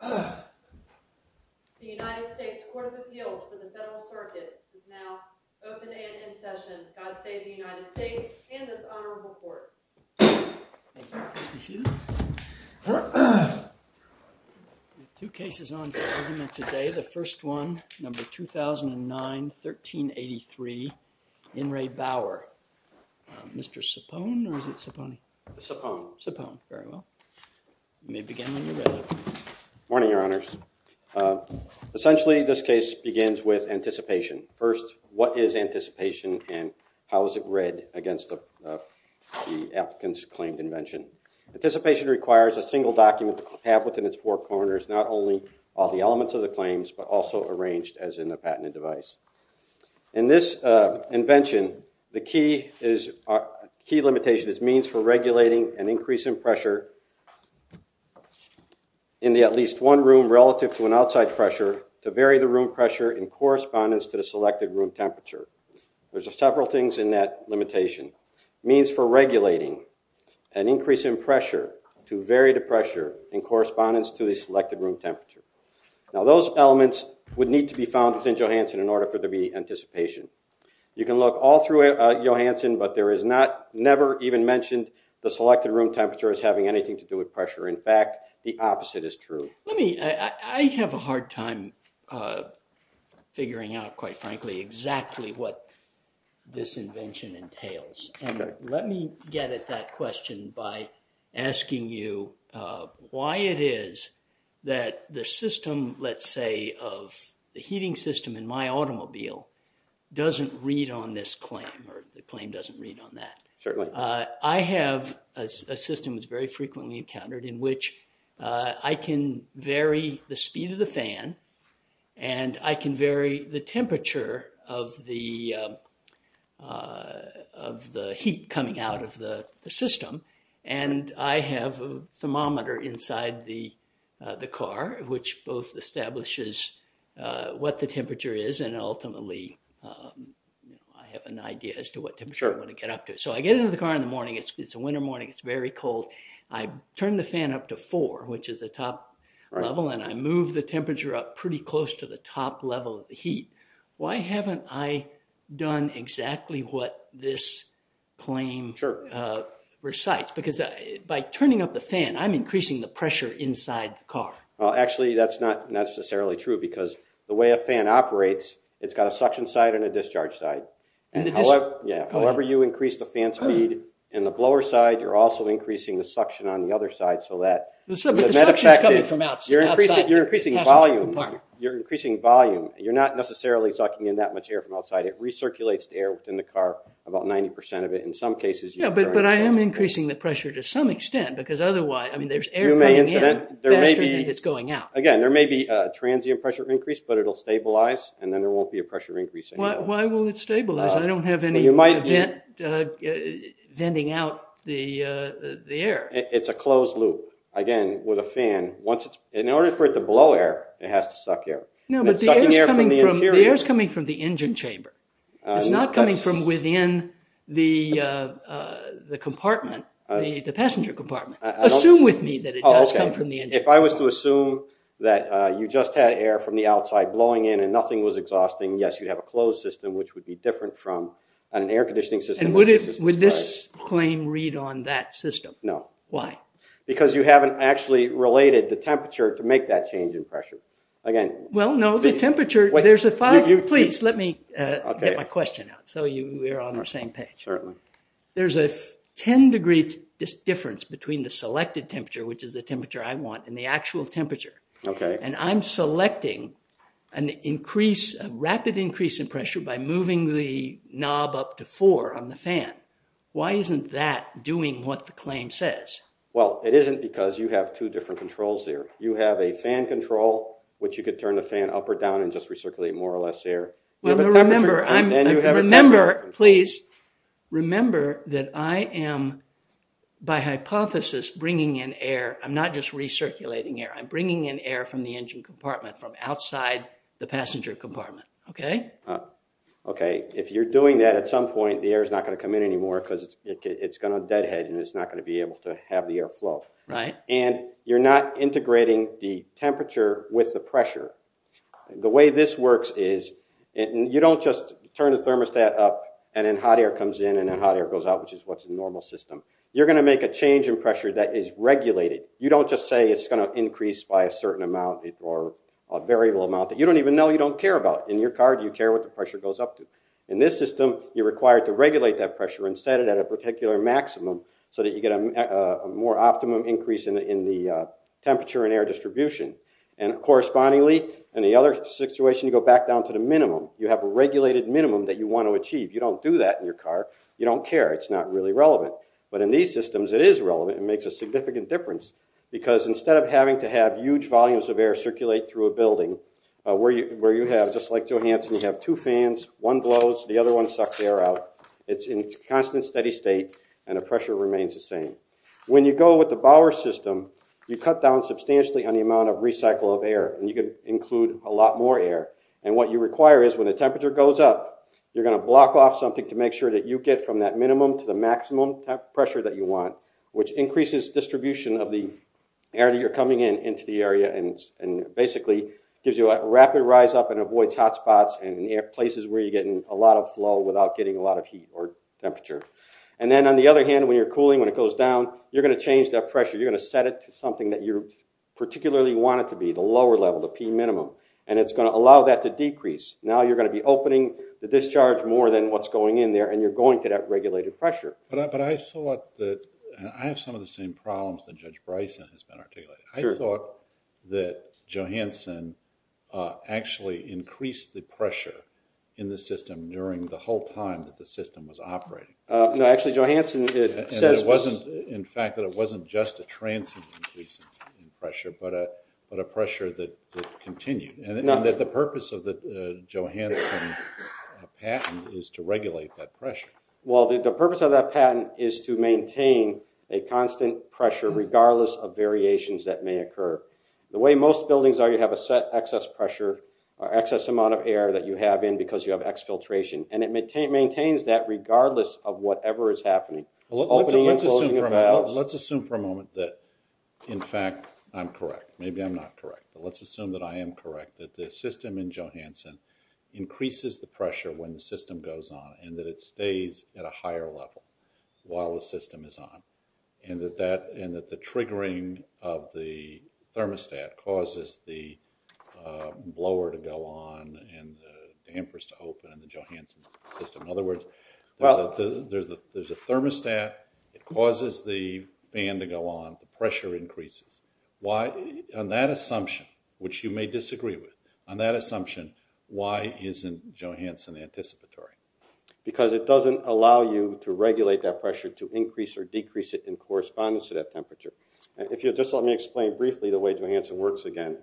The United States Court of Appeals for the Federal Circuit is now open and in session. God save the United States and this honorable court. Thank you. Please be seated. We have two cases on today. The first one, number 2009-1383, in Re Bauer. Mr. Cipone, or is it Cipone? Cipone. Cipone, very well. You may begin when you're ready. Morning, your honors. Essentially, this case begins with anticipation. First, what is anticipation and how is it read against the applicant's claimed invention? Anticipation requires a single document to have within its four corners, not only all the elements of the claims, but also arranged as in the patented device. In this invention, the key limitation is means for regulating an increase in pressure in at least one room relative to an outside pressure to vary the room pressure in correspondence to the selected room temperature. There's several things in that limitation. Means for regulating an increase in pressure to vary the pressure in correspondence to the selected room temperature. Now, those elements would need to be found within Johansson in order for there to be anticipation. You can look all through Johansson, but there is not, never even mentioned the selected room temperature as having anything to do with pressure. In fact, the opposite is true. I have a hard time figuring out, quite frankly, exactly what this invention entails. Let me get at that question by asking you why it is that the system, let's say, of the heating system in my automobile doesn't read on this claim or the claim doesn't read on that. I have a system that's very frequently encountered in which I can vary the speed of the fan and I can vary the temperature of the heat coming out of the system. And I have a thermometer inside the car which both establishes what the temperature is and ultimately I have an idea as to what temperature I want to get up to. So I get into the car in the morning, it's a winter morning, it's very cold. I turn the fan up to four, which is the top level, and I move the temperature up pretty close to the top level of the heat. Why haven't I done exactly what this claim recites? Because by turning up the fan, I'm increasing the pressure inside the car. Actually, that's not necessarily true because the way a fan operates, it's got a suction side and a discharge side. However you increase the fan speed in the blower side, you're also increasing the suction on the other side. But the suction is coming from outside the passenger compartment. You're increasing volume. You're not necessarily sucking in that much air from outside. It recirculates the air within the car, about 90% of it. But I am increasing the pressure to some extent because otherwise there's air coming in faster than it's going out. Again, there may be a transient pressure increase but it'll stabilize and then there won't be a pressure increase anymore. Why will it stabilize? I don't have any venting out the air. It's a closed loop, again, with a fan. In order for it to blow air, it has to suck air. No, but the air is coming from the engine chamber. It's not coming from within the compartment, the passenger compartment. Assume with me that it does come from the engine chamber. If I was to assume that you just had air from the outside blowing in and nothing was exhausting, yes, you'd have a closed system which would be different from an air conditioning system. Would this claim read on that system? No. Why? Because you haven't actually related the temperature to make that change in pressure. Well, no, the temperature, there's a five. Please, let me get my question out so we're on the same page. Certainly. There's a 10 degree difference between the selected temperature, which is the temperature I want, and the actual temperature. Okay. And I'm selecting a rapid increase in pressure by moving the knob up to four on the fan. Why isn't that doing what the claim says? Well, it isn't because you have two different controls there. You have a fan control, which you could turn the fan up or down and just recirculate more or less air. Well, remember, please, remember that I am, by hypothesis, bringing in air. I'm not just recirculating air. I'm bringing in air from the engine compartment, from outside the passenger compartment. Okay? Okay. If you're doing that at some point, the air is not going to come in anymore because it's going to deadhead and it's not going to be able to have the air flow. Right. And you're not integrating the temperature with the pressure. The way this works is you don't just turn the thermostat up and then hot air comes in and then hot air goes out, which is what's a normal system. You're going to make a change in pressure that is regulated. You don't just say it's going to increase by a certain amount or a variable amount that you don't even know you don't care about. In your car, do you care what the pressure goes up to? In this system, you're required to regulate that pressure and set it at a particular maximum so that you get a more optimum increase in the temperature and air distribution. And correspondingly, in the other situation, you go back down to the minimum. You have a regulated minimum that you want to achieve. You don't do that in your car. You don't care. It's not really relevant. But in these systems, it is relevant. It makes a significant difference because instead of having to have huge volumes of air circulate through a building where you have, just like Johansson, you have two fans, one blows, the other one sucks air out, it's in constant steady state, and the pressure remains the same. When you go with the Bower system, you cut down substantially on the amount of recycle of air, and you can include a lot more air. And what you require is when the temperature goes up, you're going to block off something to make sure that you get from that minimum to the maximum pressure that you want, which increases distribution of the air that you're coming in into the area and basically gives you a rapid rise up and avoids hot spots and places where you're getting a lot of flow without getting a lot of heat or temperature. And then on the other hand, when you're cooling, when it goes down, you're going to change that pressure. You're going to set it to something that you particularly want it to be, the lower level, the P minimum, and it's going to allow that to decrease. Now you're going to be opening the discharge more than what's going in there, and you're going to that regulated pressure. But I thought that – and I have some of the same problems that Judge Bryson has been articulating. I thought that Johansson actually increased the pressure in the system during the whole time that the system was operating. No, actually, Johansson – And it wasn't – in fact, that it wasn't just a transient increase in pressure, but a pressure that continued. And that the purpose of the Johansson patent is to regulate that pressure. Well, the purpose of that patent is to maintain a constant pressure regardless of variations that may occur. The way most buildings are, you have a set excess pressure or excess amount of air that you have in because you have exfiltration, and it maintains that regardless of whatever is happening. Let's assume for a moment that, in fact, I'm correct. Let's assume that I am correct, that the system in Johansson increases the pressure when the system goes on and that it stays at a higher level while the system is on, and that the triggering of the thermostat causes the blower to go on and the dampers to open in the Johansson system. In other words, there's a thermostat. It causes the fan to go on. The pressure increases. On that assumption, which you may disagree with, on that assumption, why isn't Johansson anticipatory? Because it doesn't allow you to regulate that pressure to increase or decrease it in correspondence to that temperature. Just let me explain briefly the way Johansson works again.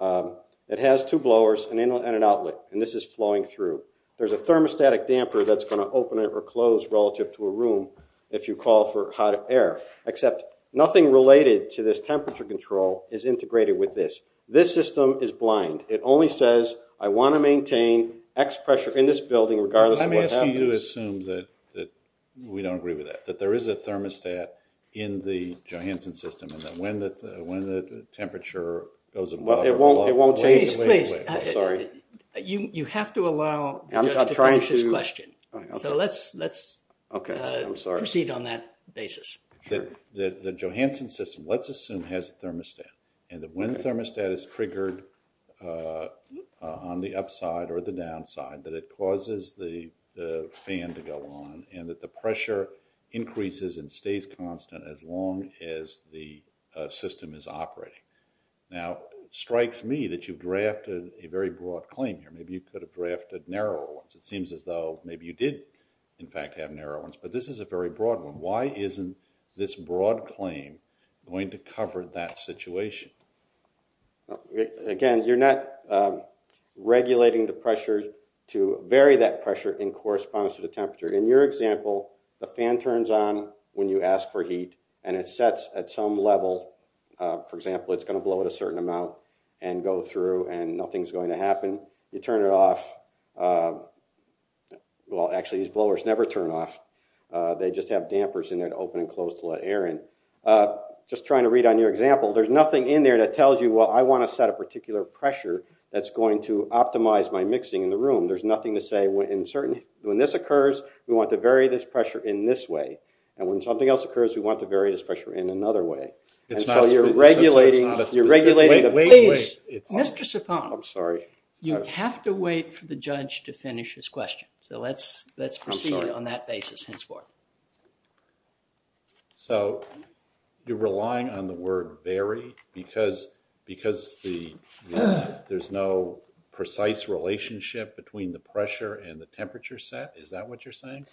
It has two blowers and an outlet, and this is flowing through. There's a thermostatic damper that's going to open or close relative to a room if you call for hot air, except nothing related to this temperature control is integrated with this. This system is blind. It only says, I want to maintain X pressure in this building regardless of what happens. Let me ask you to assume that we don't agree with that, that there is a thermostat in the Johansson system and that when the temperature goes above or below, it won't change the way it works. You have to allow just to finish this question. So let's proceed on that basis. The Johansson system, let's assume, has a thermostat and that when the thermostat is triggered on the upside or the downside, that it causes the fan to go on and that the pressure increases and stays constant as long as the system is operating. Now, it strikes me that you've drafted a very broad claim here. Maybe you could have drafted narrower ones. It seems as though maybe you did, in fact, have narrower ones. But this is a very broad one. Why isn't this broad claim going to cover that situation? Again, you're not regulating the pressure to vary that pressure in correspondence to the temperature. In your example, the fan turns on when you ask for heat and it sets at some level. For example, it's going to blow at a certain amount and go through and nothing's going to happen. You turn it off. Well, actually, these blowers never turn off. They just have dampers in there to open and close to let air in. Just trying to read on your example, there's nothing in there that tells you, well, I want to set a particular pressure that's going to optimize my mixing in the room. There's nothing to say when this occurs, we want to vary this pressure in this way. And when something else occurs, we want to vary this pressure in another way. And so you're regulating the pressure. Mr. Cipone, you have to wait for the judge to finish his question. So let's proceed on that basis henceforth. So you're relying on the word vary because there's no precise relationship between the pressure and the temperature set? Is that what you're saying?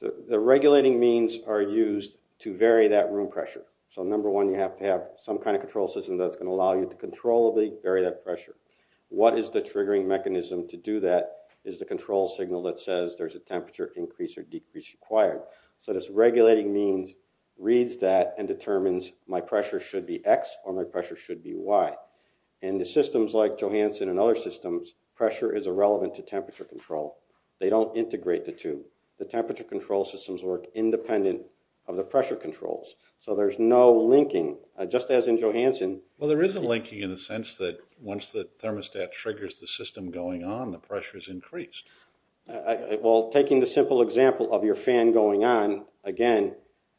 The regulating means are used to vary that room pressure. So number one, you have to have some kind of control system that's going to allow you to controllably vary that pressure. What is the triggering mechanism to do that is the control signal that says there's a temperature increase or decrease required. So this regulating means reads that and determines my pressure should be X or my pressure should be Y. In the systems like Johansson and other systems, pressure is irrelevant to temperature control. They don't integrate the two. The temperature control systems work independent of the pressure controls. So there's no linking just as in Johansson. Well, there is a linking in the sense that once the thermostat triggers the system going on, the pressure is increased. Well, taking the simple example of your fan going on, again,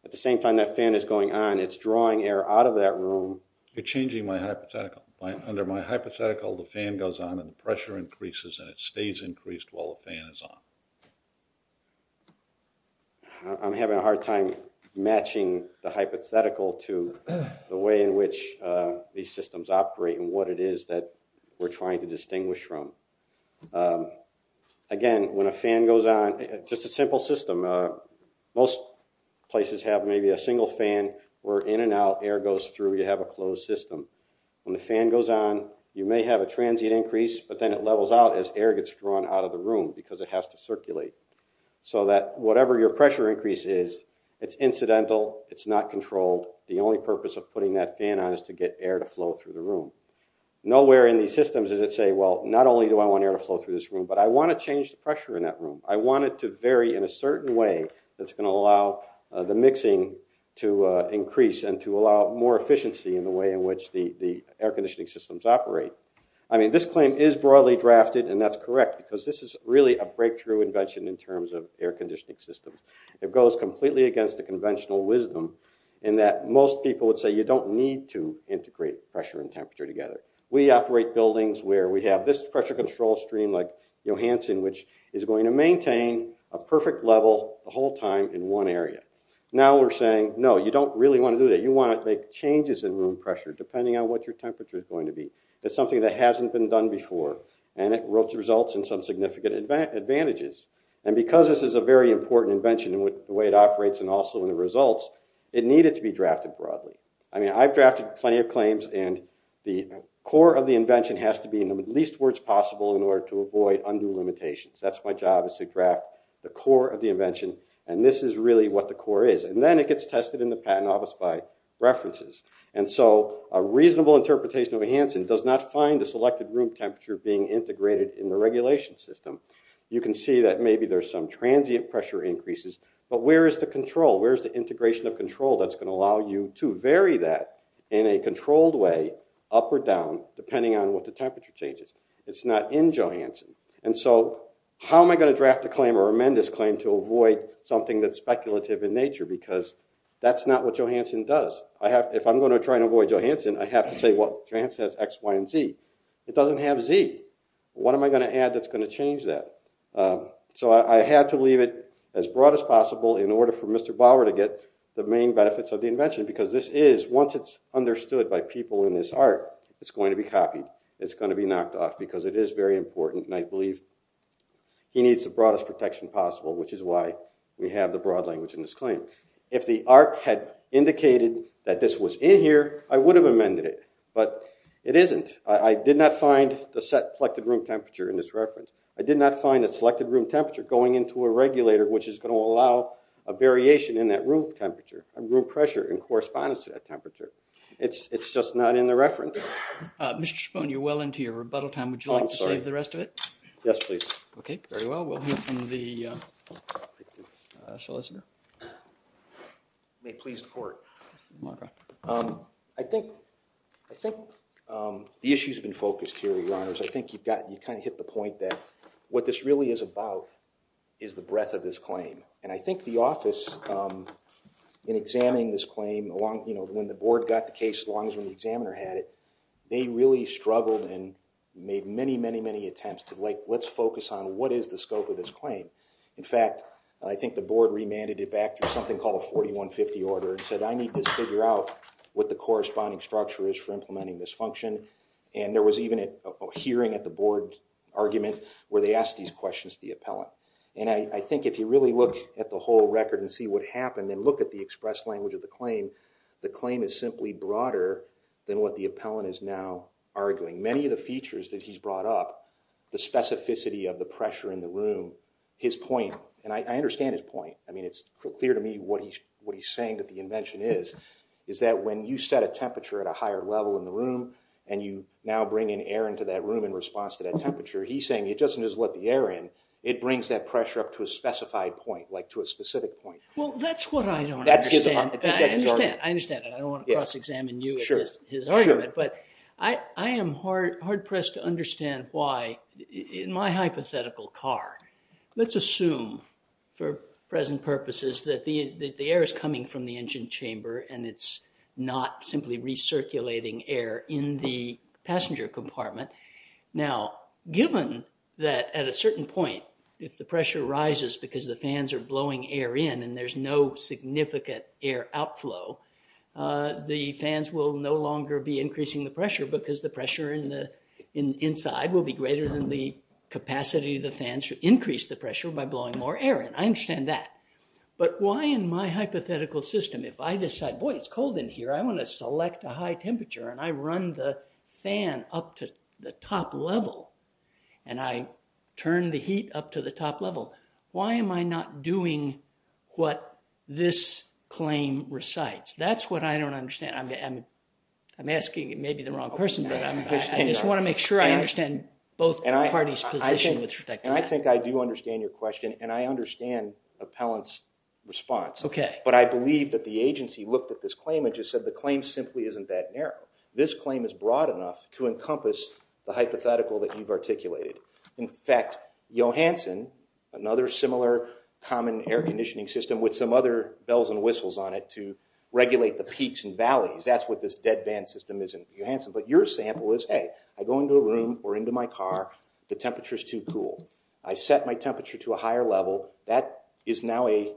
at the same time that fan is going on, it's drawing air out of that room. You're changing my hypothetical. Under my hypothetical, the fan goes on and the pressure increases and it stays increased while the fan is on. I'm having a hard time matching the hypothetical to the way in which these systems operate and what it is that we're trying to distinguish from. Again, when a fan goes on, just a simple system. Most places have maybe a single fan where in and out air goes through. You have a closed system. When the fan goes on, you may have a transient increase, but then it levels out as air gets drawn out of the room because it has to circulate so that whatever your pressure increase is, it's incidental. It's not controlled. The only purpose of putting that fan on is to get air to flow through the room. Nowhere in these systems does it say, well, not only do I want air to flow through this room, but I want to change the pressure in that room. I want it to vary in a certain way that's going to allow the mixing to increase and to allow more efficiency in the way in which the air conditioning systems operate. I mean, this claim is broadly drafted, and that's correct, because this is really a breakthrough invention in terms of air conditioning systems. It goes completely against the conventional wisdom in that most people would say you don't need to integrate pressure and temperature together. We operate buildings where we have this pressure control stream like Johansson, which is going to maintain a perfect level the whole time in one area. Now we're saying, no, you don't really want to do that. You want to make changes in room pressure depending on what your temperature is going to be. It's something that hasn't been done before, and it results in some significant advantages. And because this is a very important invention in the way it operates and also in the results, it needed to be drafted broadly. I mean, I've drafted plenty of claims, and the core of the invention has to be in the least words possible in order to avoid undue limitations. That's my job is to draft the core of the invention, and this is really what the core is. And then it gets tested in the patent office by references. And so a reasonable interpretation of Johansson does not find a selected room temperature being integrated in the regulation system. You can see that maybe there's some transient pressure increases, but where is the control? Where is the integration of control that's going to allow you to vary that in a controlled way, up or down, depending on what the temperature changes? It's not in Johansson. And so how am I going to draft a claim or amend this claim to avoid something that's speculative in nature? Because that's not what Johansson does. If I'm going to try and avoid Johansson, I have to say, well, Johansson has X, Y, and Z. It doesn't have Z. What am I going to add that's going to change that? So I had to leave it as broad as possible in order for Mr. Bauer to get the main benefits of the invention because this is, once it's understood by people in this art, it's going to be copied. It's going to be knocked off because it is very important, and I believe he needs the broadest protection possible, which is why we have the broad language in this claim. If the art had indicated that this was in here, I would have amended it. But it isn't. I did not find the set selected room temperature in this reference. I did not find the selected room temperature going into a regulator, which is going to allow a variation in that room temperature and room pressure in correspondence to that temperature. It's just not in the reference. Mr. Schapone, you're well into your rebuttal time. Would you like to save the rest of it? Yes, please. Okay, very well. We'll hear from the solicitor. May it please the Court. I think the issue has been focused here, Your Honors. I think you kind of hit the point that what this really is about is the breadth of this claim. And I think the office, in examining this claim, when the board got the case, as long as the examiner had it, they really struggled and made many, many, many attempts to, like, let's focus on what is the scope of this claim. In fact, I think the board remanded it back to something called a 4150 order and said, I need to figure out what the corresponding structure is for implementing this function. And there was even a hearing at the board argument where they asked these questions to the appellant. And I think if you really look at the whole record and see what happened and look at the express language of the claim, the claim is simply broader than what the appellant is now arguing. Many of the features that he's brought up, the specificity of the pressure in the room, his point, and I understand his point. I mean, it's clear to me what he's saying that the invention is, is that when you set a temperature at a higher level in the room and you now bring in air into that room in response to that temperature, he's saying it doesn't just let the air in. It brings that pressure up to a specified point, like to a specific point. Well, that's what I don't understand. I understand. I understand. I don't want to cross examine you with his argument. But I am hard pressed to understand why in my hypothetical car, let's assume for present purposes that the air is coming from the engine chamber and it's not simply recirculating air in the passenger compartment. Now, given that at a certain point, if the pressure rises because the fans are blowing air in and there's no significant air outflow, the fans will no longer be increasing the pressure because the pressure in the inside will be greater than the capacity of the fans to increase the pressure by blowing more air in. I understand that. But why in my hypothetical system, if I decide, boy, it's cold in here, I want to select a high temperature and I run the fan up to the top level and I turn the heat up to the top level, why am I not doing what this claim recites? That's what I don't understand. I'm asking maybe the wrong person, but I just want to make sure I understand both parties' position with respect to that. And I think I do understand your question and I understand Appellant's response. But I believe that the agency looked at this claim and just said the claim simply isn't that narrow. This claim is broad enough to encompass the hypothetical that you've articulated. In fact, Johansson, another similar common air conditioning system with some other bells and whistles on it to regulate the peaks and valleys, that's what this dead van system is in Johansson. But your sample is, hey, I go into a room or into my car, the temperature's too cool. I set my temperature to a higher level. That is now a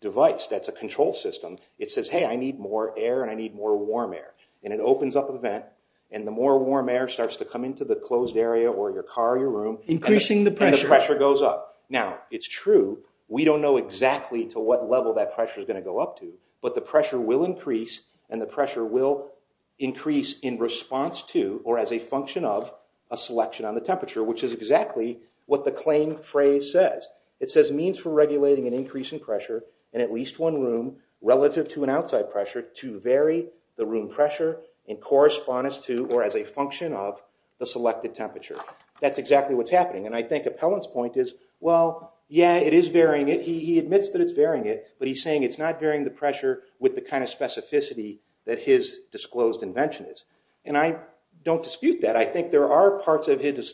device. That's a control system. It says, hey, I need more air and I need more warm air. And it opens up a vent and the more warm air starts to come into the closed area or your car or your room. Increasing the pressure. And the pressure goes up. Now, it's true, we don't know exactly to what level that pressure's going to go up to, but the pressure will increase and the pressure will increase in response to or as a function of a selection on the temperature, which is exactly what the claim phrase says. It says, means for regulating an increase in pressure in at least one room relative to an outside pressure to vary the room pressure in correspondence to or as a function of the selected temperature. That's exactly what's happening. And I think Appellant's point is, well, yeah, it is varying it. He admits that it's varying it, but he's saying it's not varying the pressure with the kind of specificity that his disclosed invention is. And I don't dispute that. I think there are parts of his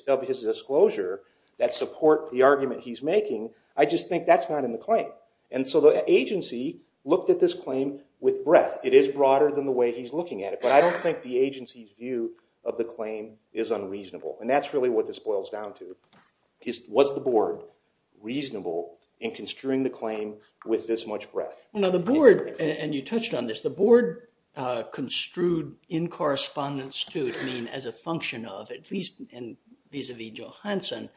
disclosure that support the argument he's making. I just think that's not in the claim. And so the agency looked at this claim with breadth. It is broader than the way he's looking at it, but I don't think the agency's view of the claim is unreasonable. And that's really what this boils down to. Was the board reasonable in construing the claim with this much breadth? And you touched on this. The board construed in correspondence to as a function of, at least vis-a-vis Johansson,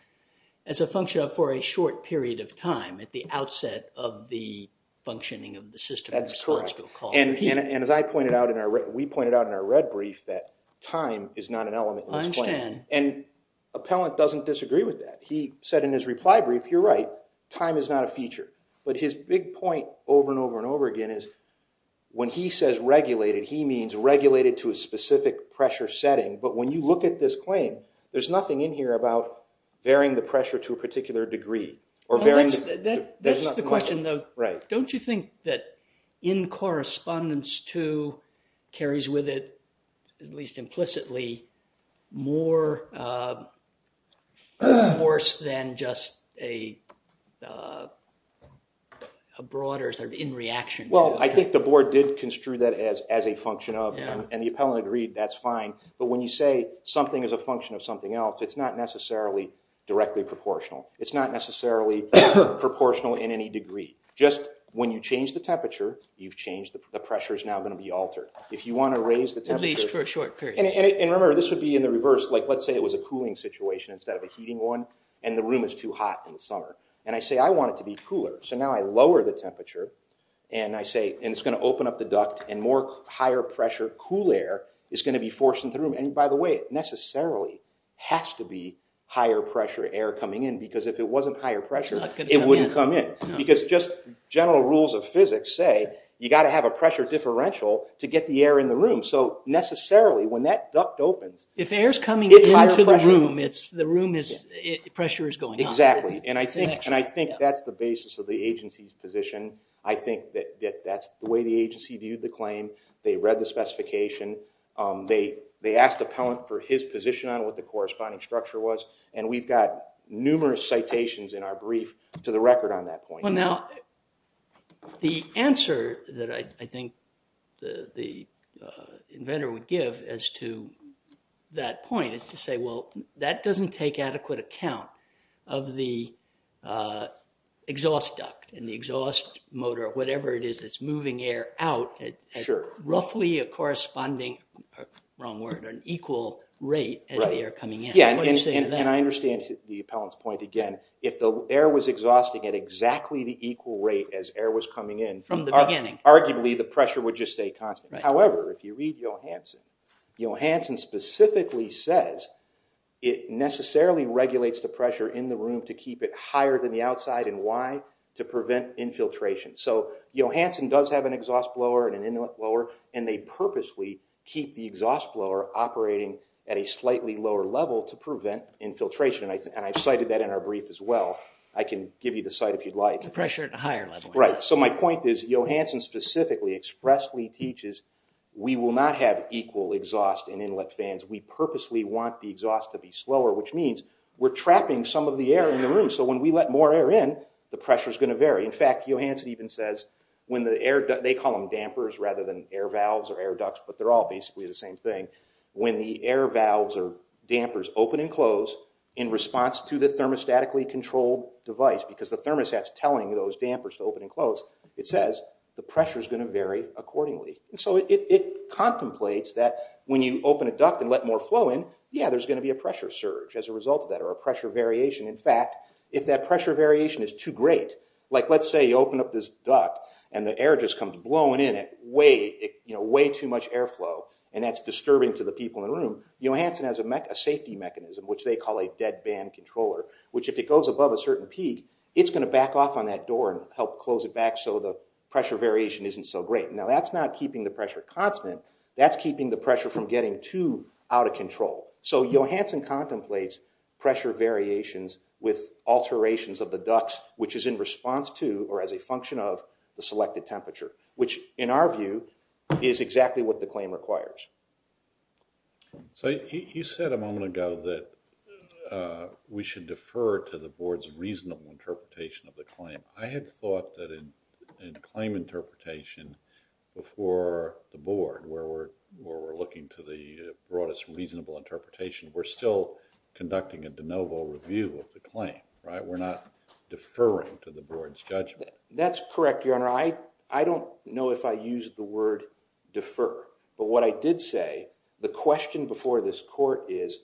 as a function of for a short period of time at the outset of the functioning of the system. That's correct. And as I pointed out, we pointed out in our red brief that time is not an element in this claim. I understand. And Appellant doesn't disagree with that. He said in his reply brief, you're right, time is not a feature. But his big point over and over and over again is when he says regulated, he means regulated to a specific pressure setting. But when you look at this claim, there's nothing in here about bearing the pressure to a particular degree. That's the question, though. Don't you think that in correspondence to carries with it, at least implicitly, more force than just a broader sort of in reaction to? Well, I think the board did construe that as a function of. And the appellant agreed that's fine. But when you say something is a function of something else, it's not necessarily directly proportional. It's not necessarily proportional in any degree. Just when you change the temperature, you've changed. The pressure is now going to be altered. If you want to raise the temperature. At least for a short period. And remember, this would be in the reverse. Like let's say it was a cooling situation instead of a heating one. And the room is too hot in the summer. And I say I want it to be cooler. So now I lower the temperature. And I say it's going to open up the duct. And more higher pressure cool air is going to be forced into the room. And by the way, it necessarily has to be higher pressure air coming in. Because if it wasn't higher pressure, it wouldn't come in. Because just general rules of physics say you've got to have a pressure differential to get the air in the room. So necessarily when that duct opens. If air is coming into the room, the pressure is going up. Exactly. And I think that's the basis of the agency's position. I think that that's the way the agency viewed the claim. They read the specification. They asked the appellant for his position on what the corresponding structure was. And we've got numerous citations in our brief to the record on that point. Well, now the answer that I think the inventor would give as to that point is to say, well, that doesn't take adequate account of the exhaust duct and the exhaust motor, whatever it is that's moving air out at roughly a corresponding, wrong word, an equal rate as the air coming in. And I understand the appellant's point. Again, if the air was exhausting at exactly the equal rate as air was coming in, arguably the pressure would just stay constant. However, if you read Johanson, Johanson specifically says it necessarily regulates the pressure in the room to keep it higher than the outside. And why? To prevent infiltration. So Johanson does have an exhaust blower and an inlet blower, and they purposely keep the exhaust blower operating at a slightly lower level to prevent infiltration. And I cited that in our brief as well. I can give you the site if you'd like. The pressure at a higher level. Right. So my point is Johanson specifically expressly teaches we will not have equal exhaust and inlet fans. We purposely want the exhaust to be slower, which means we're trapping some of the air in the room. So when we let more air in, the pressure is going to vary. In fact, Johanson even says when the air – they call them dampers rather than air valves or air ducts, but they're all basically the same thing. When the air valves or dampers open and close in response to the thermostatically controlled device, because the thermostat's telling those dampers to open and close, it says the pressure's going to vary accordingly. And so it contemplates that when you open a duct and let more flow in, yeah, there's going to be a pressure surge as a result of that or a pressure variation. In fact, if that pressure variation is too great, like let's say you open up this duct and the air just comes blowing in at way, you know, way too much airflow, and that's disturbing to the people in the room, Johanson has a safety mechanism, which they call a dead band controller, which if it goes above a certain peak, it's going to back off on that door and help close it back so the pressure variation isn't so great. Now, that's not keeping the pressure constant. That's keeping the pressure from getting too out of control. So Johanson contemplates pressure variations with alterations of the ducts, which is in response to or as a function of the selected temperature, which in our view is exactly what the claim requires. So you said a moment ago that we should defer to the board's reasonable interpretation of the claim. I had thought that in claim interpretation before the board, where we're looking to the broadest reasonable interpretation, we're still conducting a de novo review of the claim, right? We're not deferring to the board's judgment. That's correct, Your Honor. I don't know if I used the word defer, but what I did say, the question before this court is,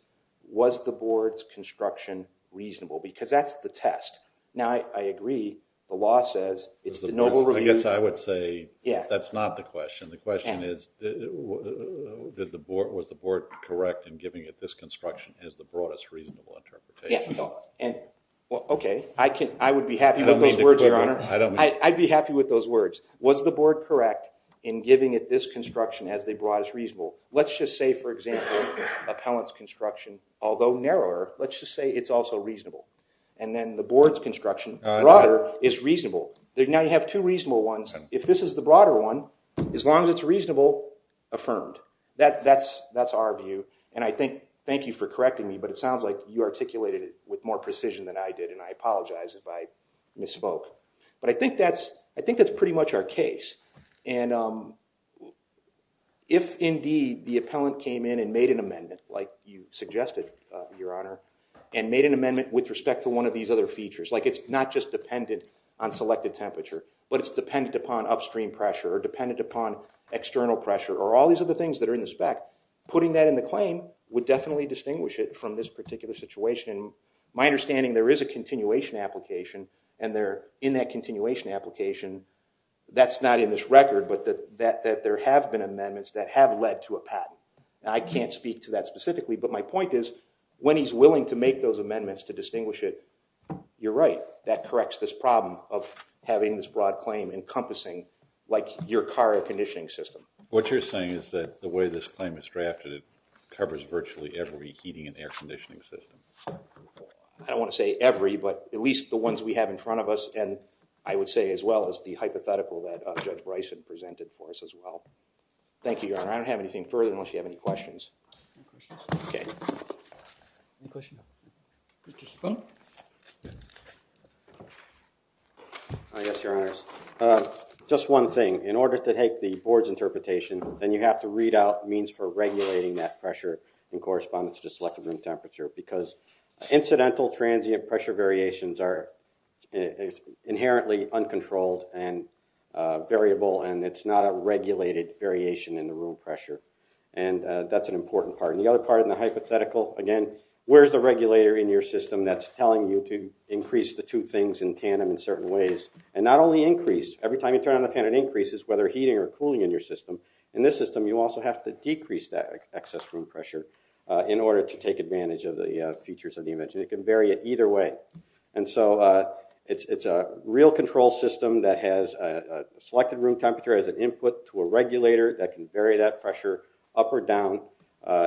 was the board's construction reasonable? Because that's the test. Now, I agree. The law says it's de novo review. I guess I would say that's not the question. The question is, was the board correct in giving it this construction as the broadest reasonable interpretation? Okay. I would be happy with those words, Your Honor. I'd be happy with those words. Was the board correct in giving it this construction as the broadest reasonable? Let's just say, for example, appellant's construction, although narrower, let's just say it's also reasonable. And then the board's construction, broader, is reasonable. Now you have two reasonable ones. If this is the broader one, as long as it's reasonable, affirmed. That's our view, and I thank you for correcting me, but it sounds like you articulated it with more precision than I did, and I apologize if I misspoke. But I think that's pretty much our case. And if, indeed, the appellant came in and made an amendment, like you suggested, Your Honor, and made an amendment with respect to one of these other features, like it's not just dependent on selected temperature, but it's dependent upon upstream pressure or dependent upon external pressure or all these other things that are in the spec, putting that in the claim would definitely distinguish it from this particular situation. My understanding, there is a continuation application, and in that continuation application, that's not in this record, but that there have been amendments that have led to a patent. I can't speak to that specifically, but my point is, when he's willing to make those amendments to distinguish it, you're right. That corrects this problem of having this broad claim encompassing, like, your car air conditioning system. What you're saying is that the way this claim is drafted, it covers virtually every heating and air conditioning system. I don't want to say every, but at least the ones we have in front of us, and I would say as well as the hypothetical that Judge Bryson presented for us as well. Thank you, Your Honor. I don't have anything further unless you have any questions. No questions. Okay. No questions. Mr. Spoon? Yes. Yes, Your Honors. Just one thing. In order to take the board's interpretation, then you have to read out means for regulating that pressure in correspondence to selected room temperature because incidental transient pressure variations are inherently uncontrolled and variable, and it's not a regulated variation in the room pressure, and that's an important part. And the other part in the hypothetical, again, where's the regulator in your system that's telling you to increase the two things in tandem in certain ways and not only increase, every time you turn on the fan it increases, whether heating or cooling in your system. In this system, you also have to decrease that excess room pressure in order to take advantage of the features of the image, and it can vary it either way. And so it's a real control system that has a selected room temperature as an input to a regulator that can vary that pressure up or down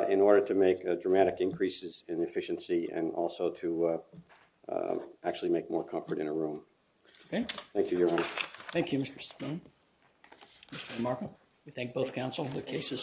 in order to make dramatic increases in efficiency and also to actually make more comfort in a room. Okay. Thank you, Your Honor. Thank you, Mr. Spoon. Mr. Markel? We thank both counsel. The case is submitted.